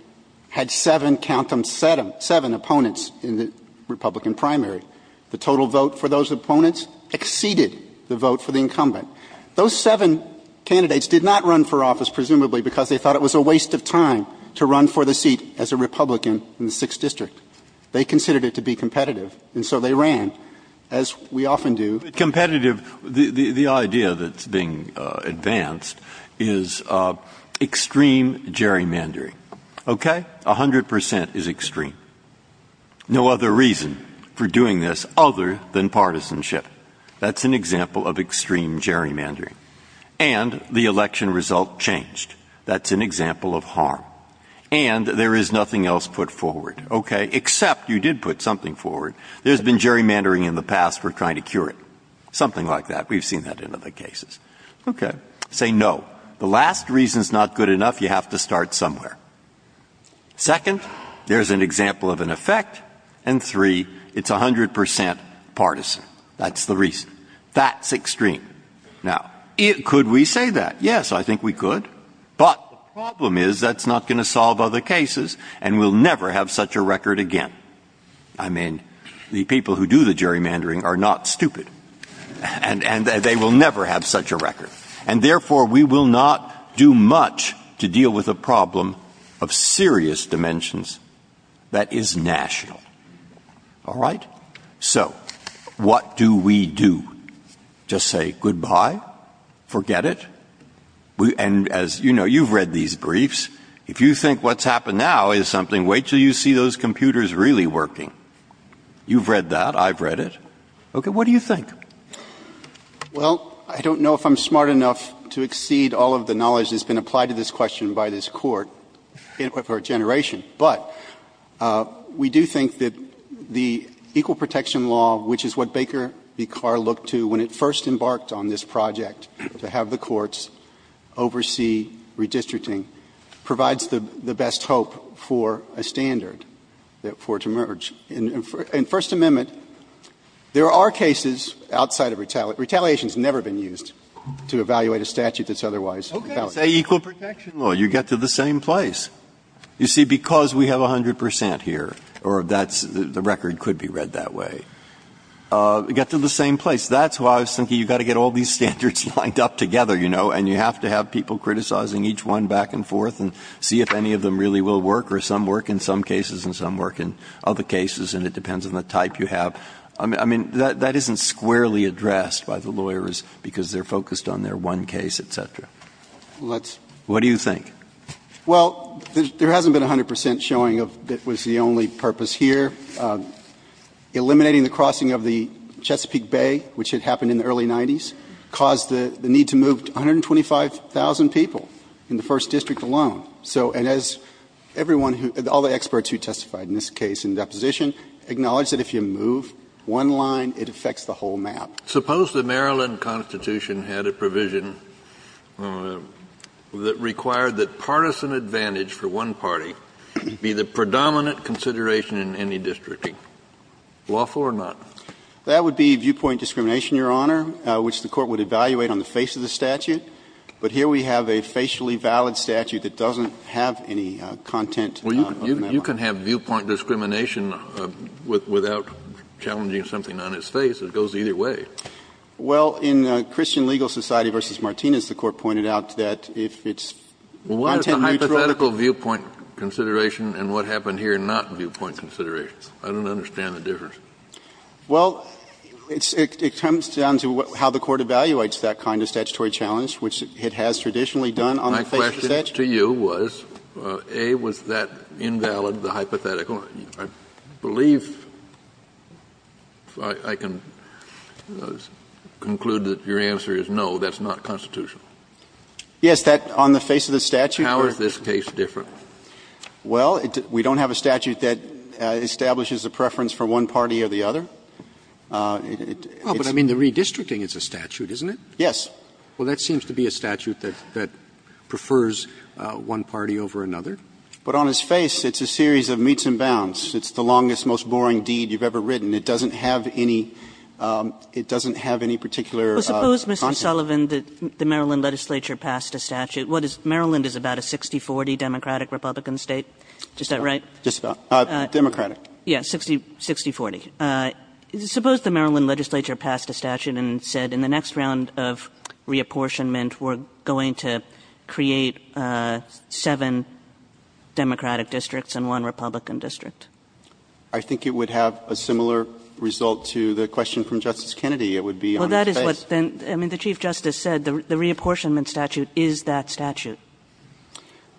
had seven countum sedum, seven opponents in the Republican primary. The total vote for those opponents exceeded the vote for the incumbent. Those seven candidates did not run for office, presumably because they thought it was a waste of time to run for the seat as a Republican in the 6th District. They considered it to be competitive, and so they ran, as we often do. Competitive, the idea that's being advanced is extreme gerrymandering. Okay? A hundred percent is extreme. No other reason for doing this other than partisanship. That's an example of extreme gerrymandering. And the election result changed. That's an example of harm. And there is nothing else put forward, okay, except you did put something forward. There's been gerrymandering in the past. We're trying to cure it. Something like that. We've seen that in other cases. Okay. Say no. The last reason is not good enough. You have to start somewhere. Second, there's an example of an effect. And three, it's a hundred percent partisan. That's the reason. That's extreme. Now, could we say that? Yes, I think we could. But the problem is that's not going to solve other cases and we'll never have such a record again. I mean, the people who do the gerrymandering are not stupid. And they will never have such a record. And therefore, we will not do much to deal with a problem of serious dimensions that is national. All right? So what do we do? Just say goodbye? Forget it? And as you know, you've read these briefs. If you think what's happened now is something, wait until you see those computers really working. You've read that. I've read it. Okay. What do you think? Well, I don't know if I'm smart enough to exceed all of the knowledge that's been applied to this question by this Court for a generation. But we do think that the Equal Protection Law, which is what Baker v. Carr looked to when it first embarked on this project to have the courts oversee redistricting, provides the best hope for a standard for it to emerge. In First Amendment, there are cases outside of retaliation. Retaliation has never been used to evaluate a statute that's otherwise retaliated. Okay. Say Equal Protection Law. You get to the same place. You see, because we have 100 percent here, or that's the record could be read that way. You get to the same place. That's why I was thinking you've got to get all these standards lined up together, you know, and you have to have people criticizing each one back and forth and see if any of them really will work, or some work in some cases and some work in other cases, and it depends on the type you have. I mean, that isn't squarely addressed by the lawyers because they're focused on their one case, et cetera. What do you think? Well, there hasn't been 100 percent showing that was the only purpose here. Eliminating the crossing of the Chesapeake Bay, which had happened in the early 90s, caused the need to move 125,000 people in the first district alone. So, and as everyone who — all the experts who testified in this case in the deposition acknowledged that if you move one line, it affects the whole map. Suppose the Maryland Constitution had a provision that required that partisan advantage for one party be the predominant consideration in any district. Lawful or not? That would be viewpoint discrimination, Your Honor, which the Court would evaluate on the face of the statute. But here we have a facially valid statute that doesn't have any content on that line. Well, you can have viewpoint discrimination without challenging something on its face. It goes either way. Well, in Christian Legal Society v. Martinez, the Court pointed out that if its content Kennedy, this is a hypothetical viewpoint consideration and what happened here, not viewpoint consideration. I don't understand the difference. Well, it comes down to how the Court evaluates that kind of statutory challenge, which it has traditionally done on the face of the statute. My question to you was, A, was that invalid, the hypothetical? I believe, if I can conclude that your answer is no, that's not constitutional. Yes, that on the face of the statute. How is this case different? Well, we don't have a statute that establishes a preference for one party or the other. Well, but I mean, the redistricting is a statute, isn't it? Yes. Well, that seems to be a statute that prefers one party over another. But on its face, it's a series of meets and bounds. It's the longest, most boring deed you've ever written. It doesn't have any particular content. Well, suppose, Mr. Sullivan, that the Maryland legislature passed a statute. What is — Maryland is about a 60-40 Democratic-Republican State, is that right? Just about. Democratic. Yes, 60-40. Suppose the Maryland legislature passed a statute and said, in the next round of reapportionment, we're going to create seven Democratic districts and one Republican district. I think it would have a similar result to the question from Justice Kennedy. It would be on its face. Well, that is what then — I mean, the Chief Justice said the reapportionment statute is that statute.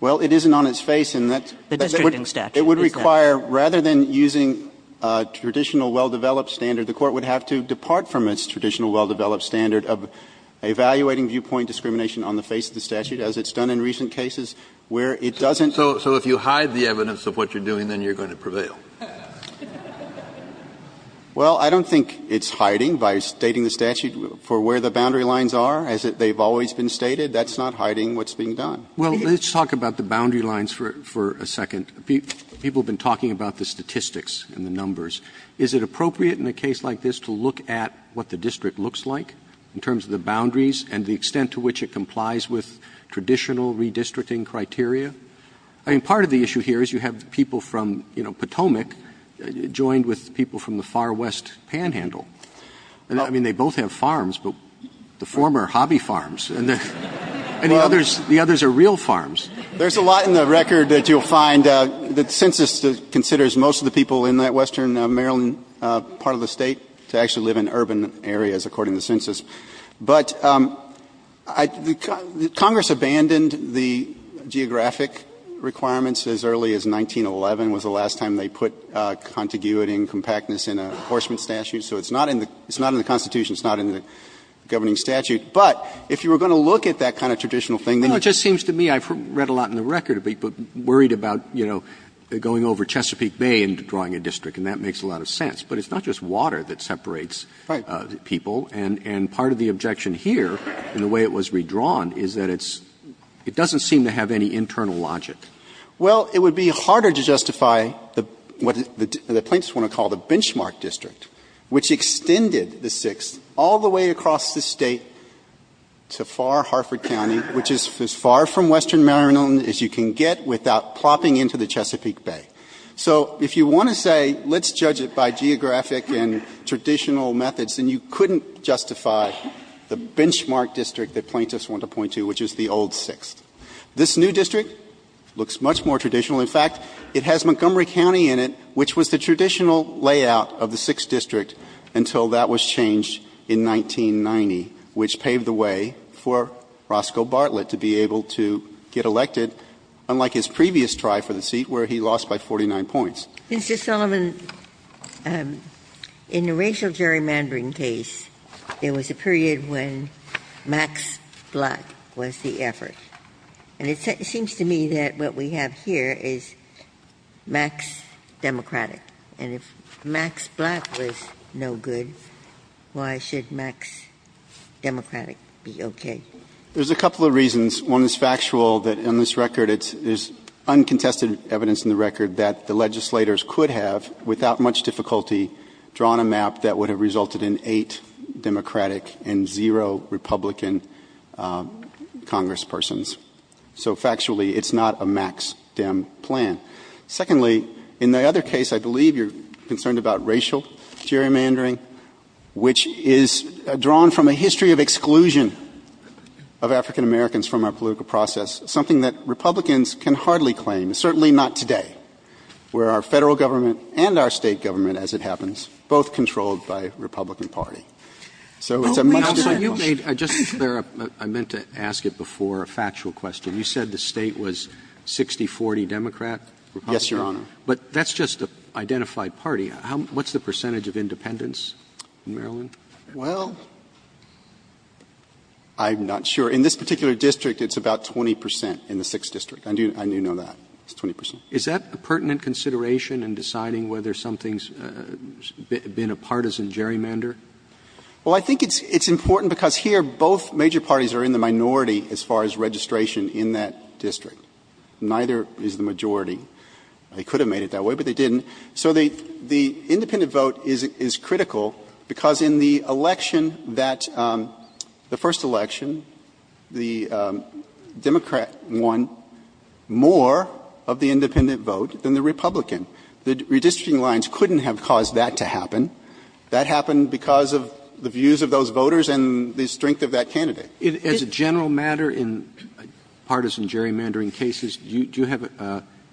Well, it isn't on its face, and that's — The districting statute is that. It would require, rather than using a traditional, well-developed standard, the Court would have to depart from its traditional, well-developed standard of evaluating viewpoint discrimination on the face of the statute, as it's done in recent cases where it doesn't — So if you hide the evidence of what you're doing, then you're going to prevail. Well, I don't think it's hiding by stating the statute for where the boundary lines are, as they've always been stated. That's not hiding what's being done. Well, let's talk about the boundary lines for a second. People have been talking about the statistics and the numbers. Is it appropriate in a case like this to look at what the district looks like in terms of the boundaries and the extent to which it complies with traditional redistricting criteria? I mean, part of the issue here is you have people from, you know, Potomac, who are joined with people from the far west panhandle. I mean, they both have farms, but the former are hobby farms, and the others are real farms. There's a lot in the record that you'll find that census considers most of the people in that western Maryland part of the State to actually live in urban areas, according to the census. But Congress abandoned the geographic requirements as early as 1911 was the last time they put contiguity and compactness in an enforcement statute. So it's not in the Constitution. It's not in the governing statute. But if you were going to look at that kind of traditional thing, then you'd have to look at it. Roberts. Well, it just seems to me, I've read a lot in the record of people worried about, you know, going over Chesapeake Bay and drawing a district, and that makes a lot of sense. But it's not just water that separates people. And part of the objection here, in the way it was redrawn, is that it's — it doesn't seem to have any internal logic. Well, it would be harder to justify what the plaintiffs want to call the benchmark district, which extended the 6th all the way across the State to far Harford County, which is as far from western Maryland as you can get without plopping into the Chesapeake Bay. So if you want to say, let's judge it by geographic and traditional methods, then you couldn't justify the benchmark district that plaintiffs want to point to, which is the old 6th. This new district looks much more traditional. In fact, it has Montgomery County in it, which was the traditional layout of the 6th district until that was changed in 1990, which paved the way for Roscoe Bartlett to be able to get elected, unlike his previous try for the seat where he lost by 49 points. Ginsburg. Mr. Sullivan, in the racial gerrymandering case, there was a period when Max Blatt was the effort. And it seems to me that what we have here is Max Democratic. And if Max Blatt was no good, why should Max Democratic be okay? There's a couple of reasons. One is factual that in this record it's uncontested evidence in the record that the legislators could have, without much difficulty, drawn a map that would have resulted in eight Democratic and zero Republican congresspersons. So factually, it's not a Max Dem plan. Secondly, in the other case, I believe you're concerned about racial gerrymandering, which is drawn from a history of exclusion of African Americans from our political process, something that Republicans can hardly claim, certainly not today, where our Democrats are a Republican party. So it's a much different process. Roberts. Roberts. You made just there, I meant to ask it before, a factual question. You said the State was 60-40 Democrat, Republican? Yes, Your Honor. But that's just an identified party. What's the percentage of independents in Maryland? Well, I'm not sure. In this particular district, it's about 20 percent in the 6th District. I do know that. It's 20 percent. Is that a pertinent consideration in deciding whether something's been a partisan gerrymander? Well, I think it's important because here both major parties are in the minority as far as registration in that district. Neither is the majority. They could have made it that way, but they didn't. So the independent vote is critical because in the election that the first election, the Democrat won more of the independent vote than the Republican. The redistricting lines couldn't have caused that to happen. That happened because of the views of those voters and the strength of that candidate. As a general matter in partisan gerrymandering cases, do you have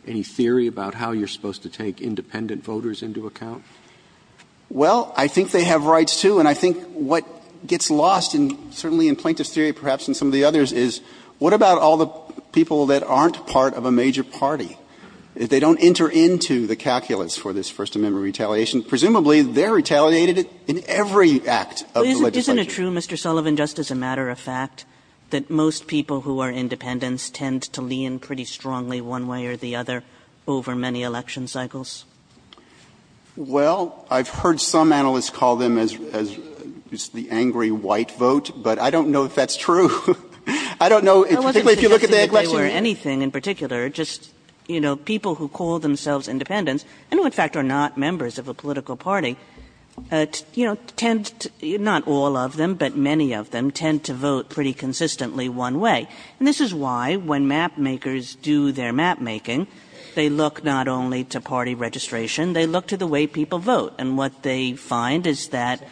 any theory about how you're supposed to take independent voters into account? Well, I think they have rights, too. And I think what gets lost, certainly in plaintiff's theory, perhaps in some of the others, is what about all the people that aren't part of a major party? If they don't enter into the calculus for this First Amendment retaliation, presumably they're retaliated in every act of the legislation. Isn't it true, Mr. Sullivan, just as a matter of fact, that most people who are independents tend to lean pretty strongly one way or the other over many election cycles? Well, I've heard some analysts call them as the angry white vote, but I don't know if that's true. I don't know, particularly if you look at the election. I wasn't suggesting that they were anything in particular, just, you know, people who call themselves independents and, in fact, are not members of a political party, you know, tend to, not all of them, but many of them, tend to vote pretty consistently one way. And this is why, when mapmakers do their mapmaking, they look not only to party registration, they look to the way people vote. And what they find is that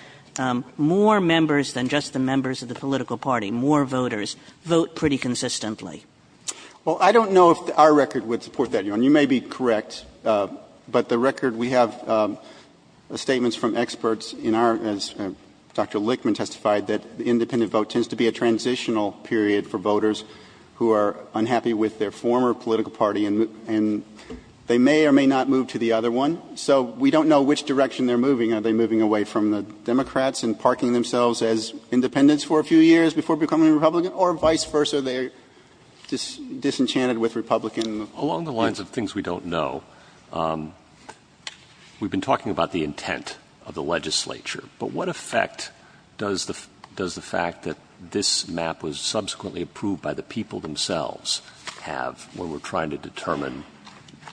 more members than just the members of the political party, more voters, vote pretty consistently. Well, I don't know if our record would support that. You may be correct, but the record, we have statements from experts in our, as Dr. Lichtman testified, that the independent vote tends to be a transitional period for voters who are unhappy with their former political party and they may or may not move to the other one. So we don't know which direction they're moving. Are they moving away from the Democrats and parking themselves as independents for a few years before becoming a Republican? Or vice versa, they're disenchanted with Republicans? Along the lines of things we don't know, we've been talking about the intent of the legislature. But what effect does the fact that this map was subsequently approved by the people themselves have when we're trying to determine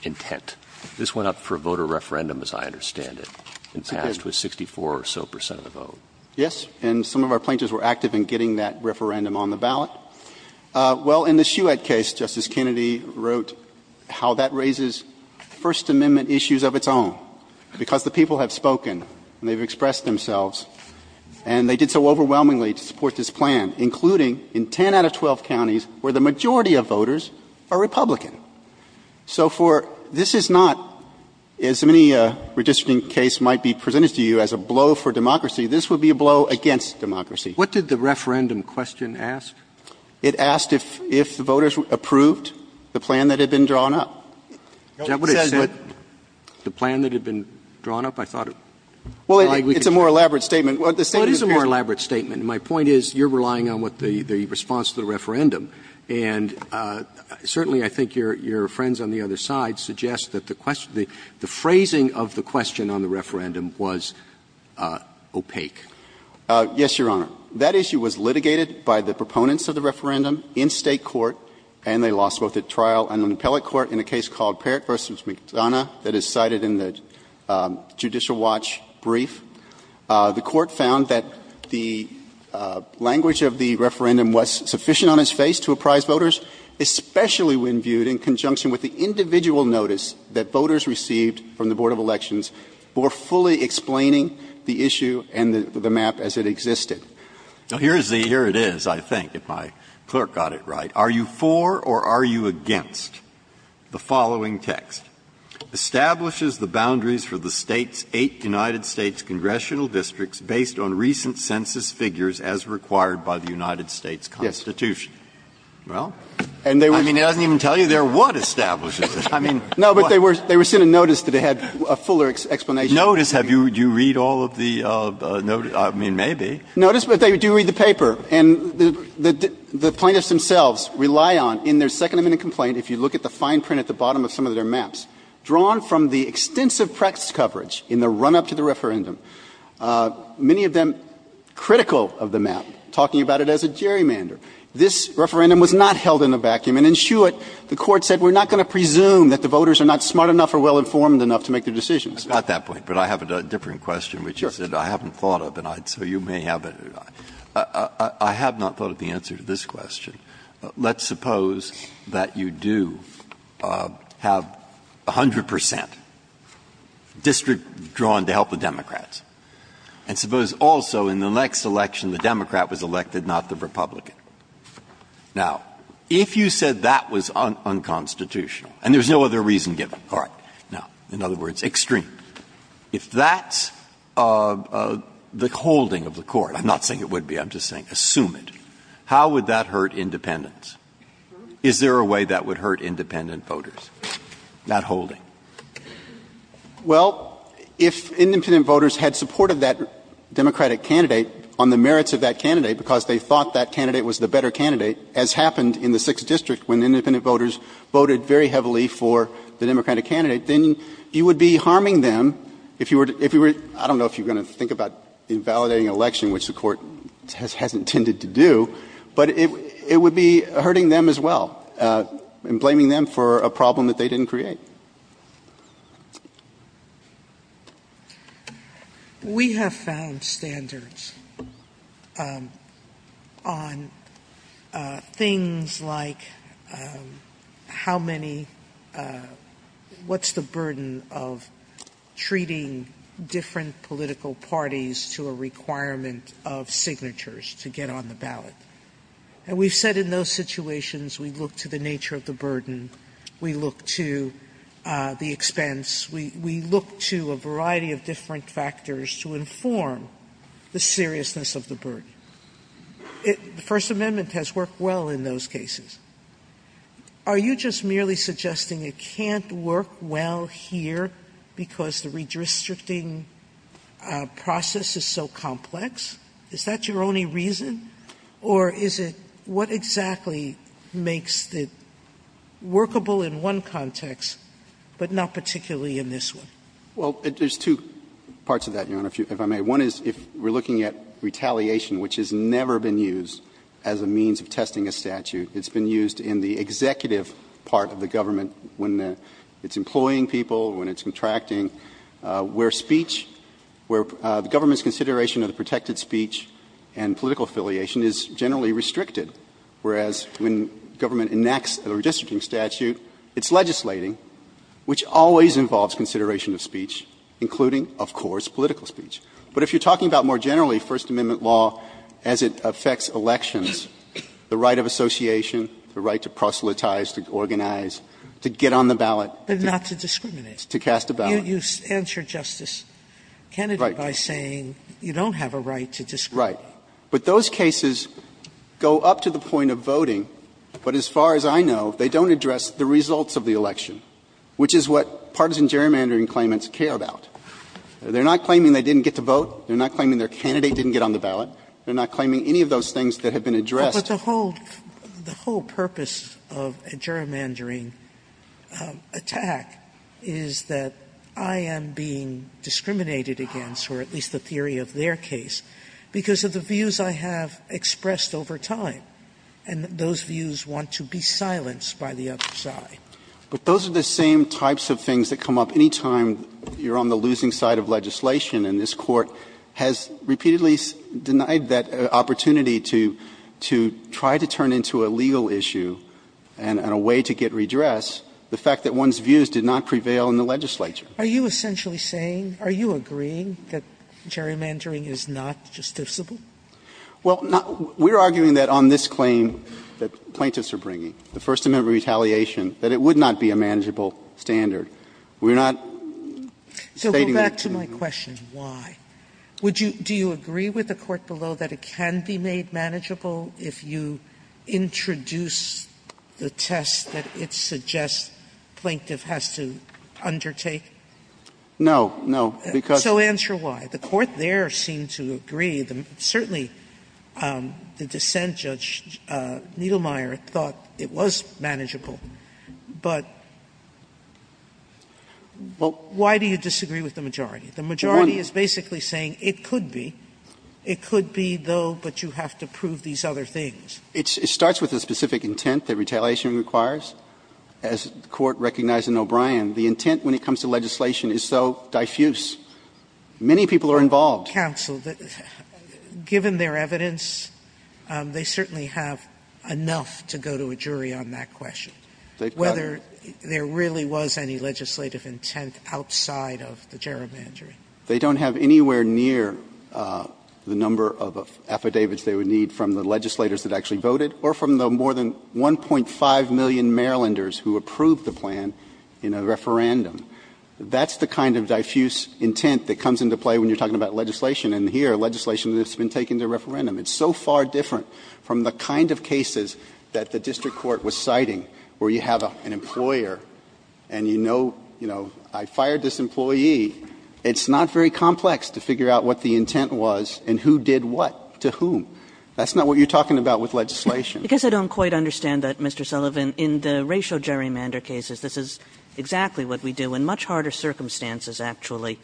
intent? This went up for a voter referendum, as I understand it, and passed with 64 or so percent of the vote. Yes, and some of our plaintiffs were active in getting that referendum on the ballot. Well, in the Shewette case, Justice Kennedy wrote how that raises First Amendment issues of its own, because the people have spoken and they've expressed themselves and they did so overwhelmingly to support this plan, including in 10 out of 12 counties where the majority of voters are Republican. So for this is not, as many redistricting case might be presented to you as a blow for democracy, this would be a blow against democracy. What did the referendum question ask? It asked if the voters approved the plan that had been drawn up. Is that what it said? The plan that had been drawn up? I thought it was. Well, it's a more elaborate statement. What is a more elaborate statement? My point is you're relying on what the response to the referendum. And certainly, I think your friends on the other side suggest that the question the phrasing of the question on the referendum was opaque. Yes, Your Honor. That issue was litigated by the proponents of the referendum in State court, and they lost both at trial and on the appellate court in a case called Parrott v. McDonough that is cited in the Judicial Watch brief. The Court found that the language of the referendum was sufficient on its face to apprise voters, especially when viewed in conjunction with the individual notice that voters received from the Board of Elections for fully explaining the issue and the map as it existed. Now, here it is, I think, if my clerk got it right. Are you for or are you against the following text? Establishes the boundaries for the State's eight United States congressional districts based on recent census figures as required by the United States Constitution. Yes. Well, I mean, it doesn't even tell you there what establishes it. I mean, what? No, but they were sent a notice that it had a fuller explanation. Notice? Have you read all of the notice? I mean, maybe. Notice, but they do read the paper. And the plaintiffs themselves rely on, in their second amendment complaint, if you look at the fine print at the bottom of some of their maps, drawn from the extensive prex coverage in the run-up to the referendum, many of them critical of the map, talking about it as a gerrymander. This referendum was not held in a vacuum. And in Shewitt, the Court said we're not going to presume that the voters are not smart enough or well-informed enough to make their decisions. I got that point, but I have a different question, which is that I haven't thought of. And I'd say you may have it. I have not thought of the answer to this question. Let's suppose that you do have 100 percent district drawn to help the Democrats. And suppose also in the next election the Democrat was elected, not the Republican. Now, if you said that was unconstitutional, and there's no other reason given. All right. Now, in other words, extreme. If that's the holding of the Court, I'm not saying it would be, I'm just saying assume it, how would that hurt independents? Is there a way that would hurt independent voters, that holding? Well, if independent voters had supported that Democratic candidate on the merits of that candidate because they thought that candidate was the better candidate, as happened in the Sixth District when independent voters voted very heavily for the Democratic candidate, then you would be harming them if you were, I don't know if you're going to think about invalidating an election, which the Court has intended to do, but it would be hurting them as well and blaming them for a problem that they didn't create. We have found standards on things like how many, what's the burden of treating different political parties to a requirement of signatures to get on the ballot. And we've said in those situations we look to the nature of the burden, we look to the expense, we look to a variety of different factors to inform the seriousness of the burden. The First Amendment has worked well in those cases. Are you just merely suggesting it can't work well here because the redistricting process is so complex? Is that your only reason? Or is it what exactly makes it workable in one context, but not particularly in this one? Well, there's two parts of that, Your Honor, if I may. One is if we're looking at retaliation, which has never been used as a means of testing a statute. It's been used in the executive part of the government when it's employing people, when it's contracting, where speech, where the government's consideration of the protected speech and political affiliation is generally restricted. Whereas, when government enacts a redistricting statute, it's legislating, which always involves consideration of speech, including, of course, political speech. But if you're talking about more generally First Amendment law as it affects elections, the right of association, the right to proselytize, to organize, to get But not to discriminate. To cast a ballot. You answer, Justice Kennedy, by saying you don't have a right to discriminate. Right. But those cases go up to the point of voting, but as far as I know, they don't address the results of the election, which is what partisan gerrymandering claimants care about. They're not claiming they didn't get to vote. They're not claiming their candidate didn't get on the ballot. They're not claiming any of those things that have been addressed. Sotomayor, but the whole purpose of a gerrymandering attack is that I am being discriminated against, or at least the theory of their case, because of the views I have expressed over time. And those views want to be silenced by the other side. But those are the same types of things that come up any time you're on the losing side of legislation, and this Court has repeatedly denied that opportunity to try to turn into a legal issue and a way to get redress the fact that one's views did not prevail in the legislature. Are you essentially saying, are you agreeing that gerrymandering is not justiciable? Well, we're arguing that on this claim that plaintiffs are bringing, the First Amendment retaliation, that it would not be a manageable standard. We're not stating that. Sotomayor, so go back to my question, why? Would you do you agree with the Court below that it can be made manageable if you introduce the test that it suggests plaintiff has to undertake? No. No. Because. So answer why. The Court there seemed to agree. Certainly, the dissent, Judge Niedlmeyer, thought it was manageable. But why do you disagree with the majority? The majority is basically saying it could be. It could be, though, but you have to prove these other things. It starts with a specific intent that retaliation requires. As the Court recognized in O'Brien, the intent when it comes to legislation is so diffuse. Many people are involved. Counsel, given their evidence, they certainly have enough to go to a jury on that question. Whether there really was any legislative intent outside of the gerrymandering. They don't have anywhere near the number of affidavits they would need from the legislators that actually voted or from the more than 1.5 million Marylanders who approved the plan in a referendum. That's the kind of diffuse intent that comes into play when you're talking about legislation. And here, legislation that's been taken to referendum. It's so far different from the kind of cases that the district court was citing where you have an employer and you know, I fired this employee, it's not very complex to figure out what the intent was and who did what, to whom. That's not what you're talking about with legislation. Kagan in the racial gerrymander cases, this is exactly what we do. In much harder circumstances, actually,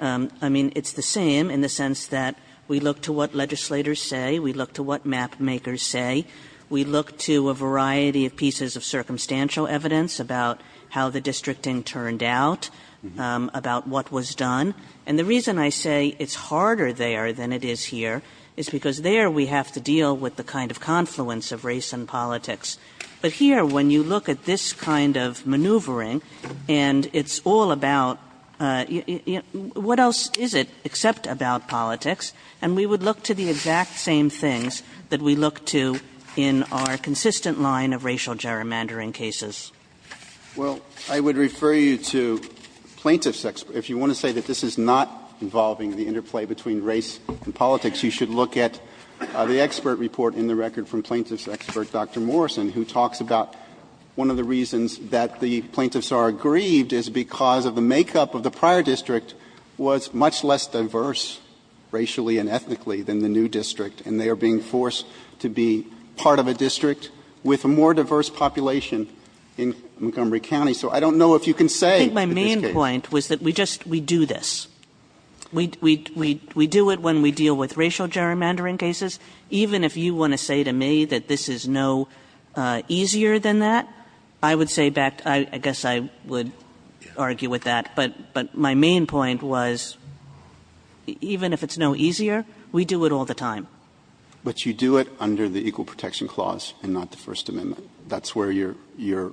I mean, it's the same in the sense that we look to what legislators say, we look to what map makers say. We look to a variety of pieces of circumstantial evidence about how the districting turned out, about what was done. And the reason I say it's harder there than it is here is because there we have to deal with the kind of confluence of race and politics. But here, when you look at this kind of maneuvering and it's all about what else is it except about politics, and we would look to the exact same things that we look to in our consistent line of racial gerrymandering cases. Well, I would refer you to plaintiff's expert. If you want to say that this is not involving the interplay between race and politics, you should look at the expert report in the record from plaintiff's expert, Dr. Morrison, who talks about one of the reasons that the plaintiffs are aggrieved is because of the makeup of the prior district was much less diverse, racially and ethnically, than the new district. And they are being forced to be part of a district with a more diverse population in Montgomery County. So I don't know if you can say, in this case. I think my main point was that we just, we do this. We do it when we deal with racial gerrymandering cases. Even if you want to say to me that this is no easier than that, I would say back, I guess I would argue with that. But my main point was, even if it's no easier, we do it all the time. But you do it under the Equal Protection Clause and not the First Amendment. That's where your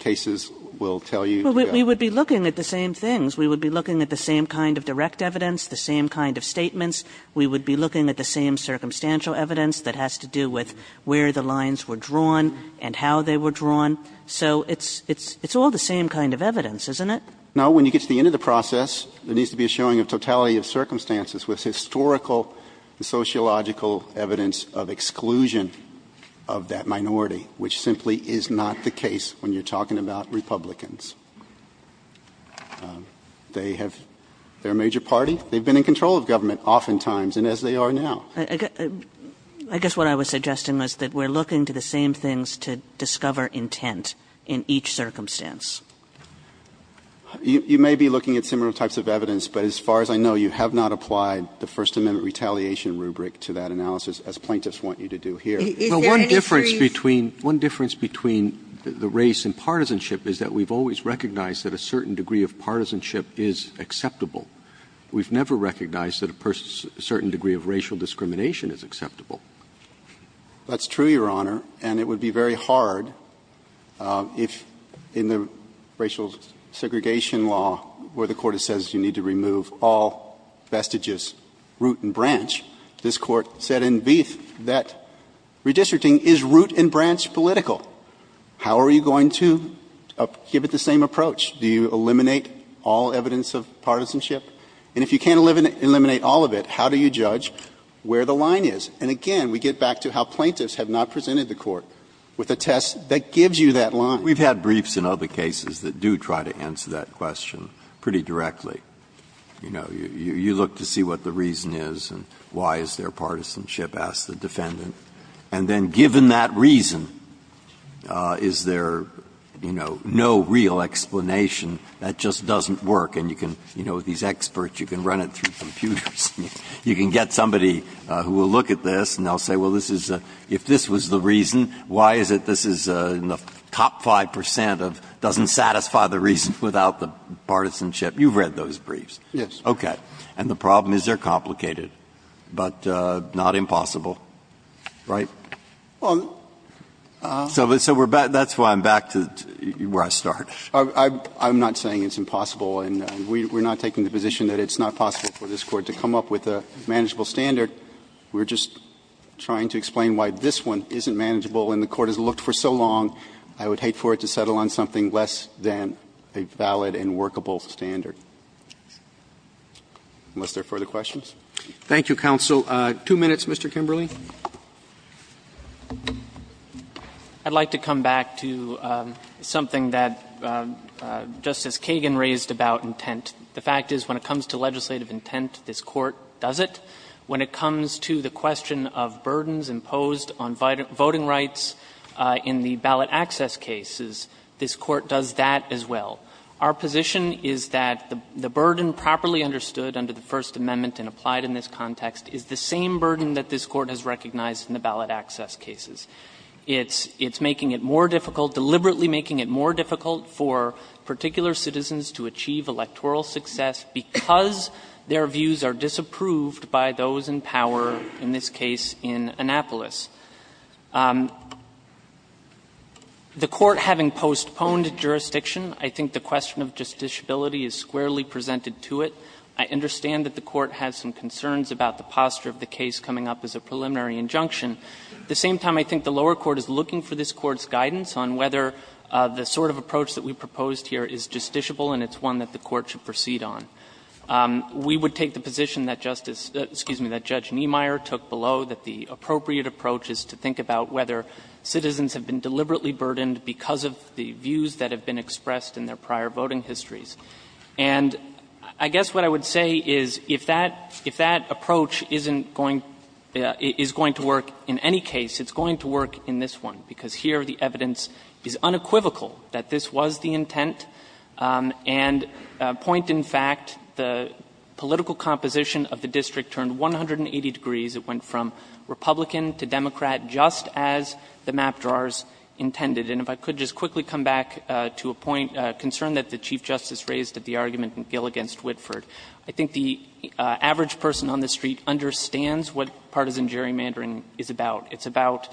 cases will tell you. We would be looking at the same things. We would be looking at the same kind of direct evidence, the same kind of statements. We would be looking at the same circumstantial evidence that has to do with where the lines were drawn and how they were drawn. So it's all the same kind of evidence, isn't it? No, when you get to the end of the process, there needs to be a showing of totality of circumstances with historical and sociological evidence of exclusion of that minority, which simply is not the case when you're talking about Republicans. They have their major party. They've been in control of government oftentimes, and as they are now. I guess what I was suggesting was that we're looking to the same things to discover intent in each circumstance. You may be looking at similar types of evidence, but as far as I know, you have not applied the First Amendment retaliation rubric to that analysis, as plaintiffs want you to do here. Is there any series? One difference between the race and partisanship is that we've always recognized that a certain degree of partisanship is acceptable. We've never recognized that a certain degree of racial discrimination is acceptable. That's true, Your Honor, and it would be very hard if in the racial segregation law where the Court says you need to remove all vestiges, root and branch, this Court said in Beef that redistricting is root and branch political. How are you going to give it the same approach? Do you eliminate all evidence of partisanship? And if you can't eliminate all of it, how do you judge where the line is? And again, we get back to how plaintiffs have not presented the Court with a test that gives you that line. Breyer, we've had briefs in other cases that do try to answer that question pretty directly. You know, you look to see what the reason is and why is there partisanship, ask the defendant. And then given that reason, is there, you know, no real explanation? That just doesn't work. And you can, you know, these experts, you can run it through computers. You can get somebody who will look at this and they'll say, well, this is a – if this was the reason, why is it this is in the top 5 percent of doesn't satisfy the reason without the partisanship? You've read those briefs. Yes. Okay. And the problem is they're complicated, but not impossible, right? So that's why I'm back to where I start. I'm not saying it's impossible, and we're not taking the position that it's not possible for this Court to come up with a manageable standard. We're just trying to explain why this one isn't manageable and the Court has looked for so long. I would hate for it to settle on something less than a valid and workable standard. Unless there are further questions. Roberts. Thank you, counsel. Two minutes, Mr. Kimberley. I'd like to come back to something that Justice Kagan raised about intent. The fact is when it comes to legislative intent, this Court does it. When it comes to the question of burdens imposed on voting rights in the ballot access cases, this Court does that as well. Our position is that the burden properly understood under the First Amendment and applied in this context is the same burden that this Court has recognized in the ballot access cases. It's making it more difficult, deliberately making it more difficult for particular citizens to achieve electoral success because their views are disapproved by those in power, in this case in Annapolis. The Court having postponed jurisdiction, I think the question of justiciability is squarely presented to it. I understand that the Court has some concerns about the posture of the case coming up as a preliminary injunction. At the same time, I think the lower court is looking for this Court's guidance on whether the sort of approach that we proposed here is justiciable and it's one that the Court should proceed on. We would take the position that Justice — excuse me, that Judge Niemeyer took below that the appropriate approach is to think about whether citizens have been deliberately burdened because of the views that have been expressed in their prior voting histories. And I guess what I would say is if that — if that approach isn't going — is going to work in any case, it's going to work in this one, because here the evidence is unequivocal that this was the intent, and point in fact, the political composition of the district turned 180 degrees. It went from Republican to Democrat just as the map drawers intended. And if I could just quickly come back to a point, a concern that the Chief Justice raised at the argument in Gill v. Whitford. I think the average person on this street understands what partisan gerrymandering is about. It's about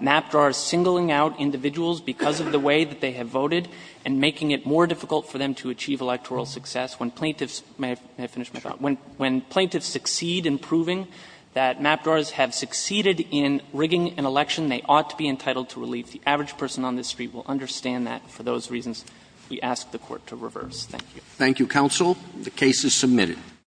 map drawers singling out individuals because of the way that they have voted and making it more difficult for them to achieve electoral success when plaintiffs — may I finish my thought? When plaintiffs succeed in proving that map drawers have succeeded in rigging an election, they ought to be entitled to relief. The average person on this street will understand that. For those reasons, we ask the Court to reverse. Thank you. Thank you, Counsel. The case is submitted.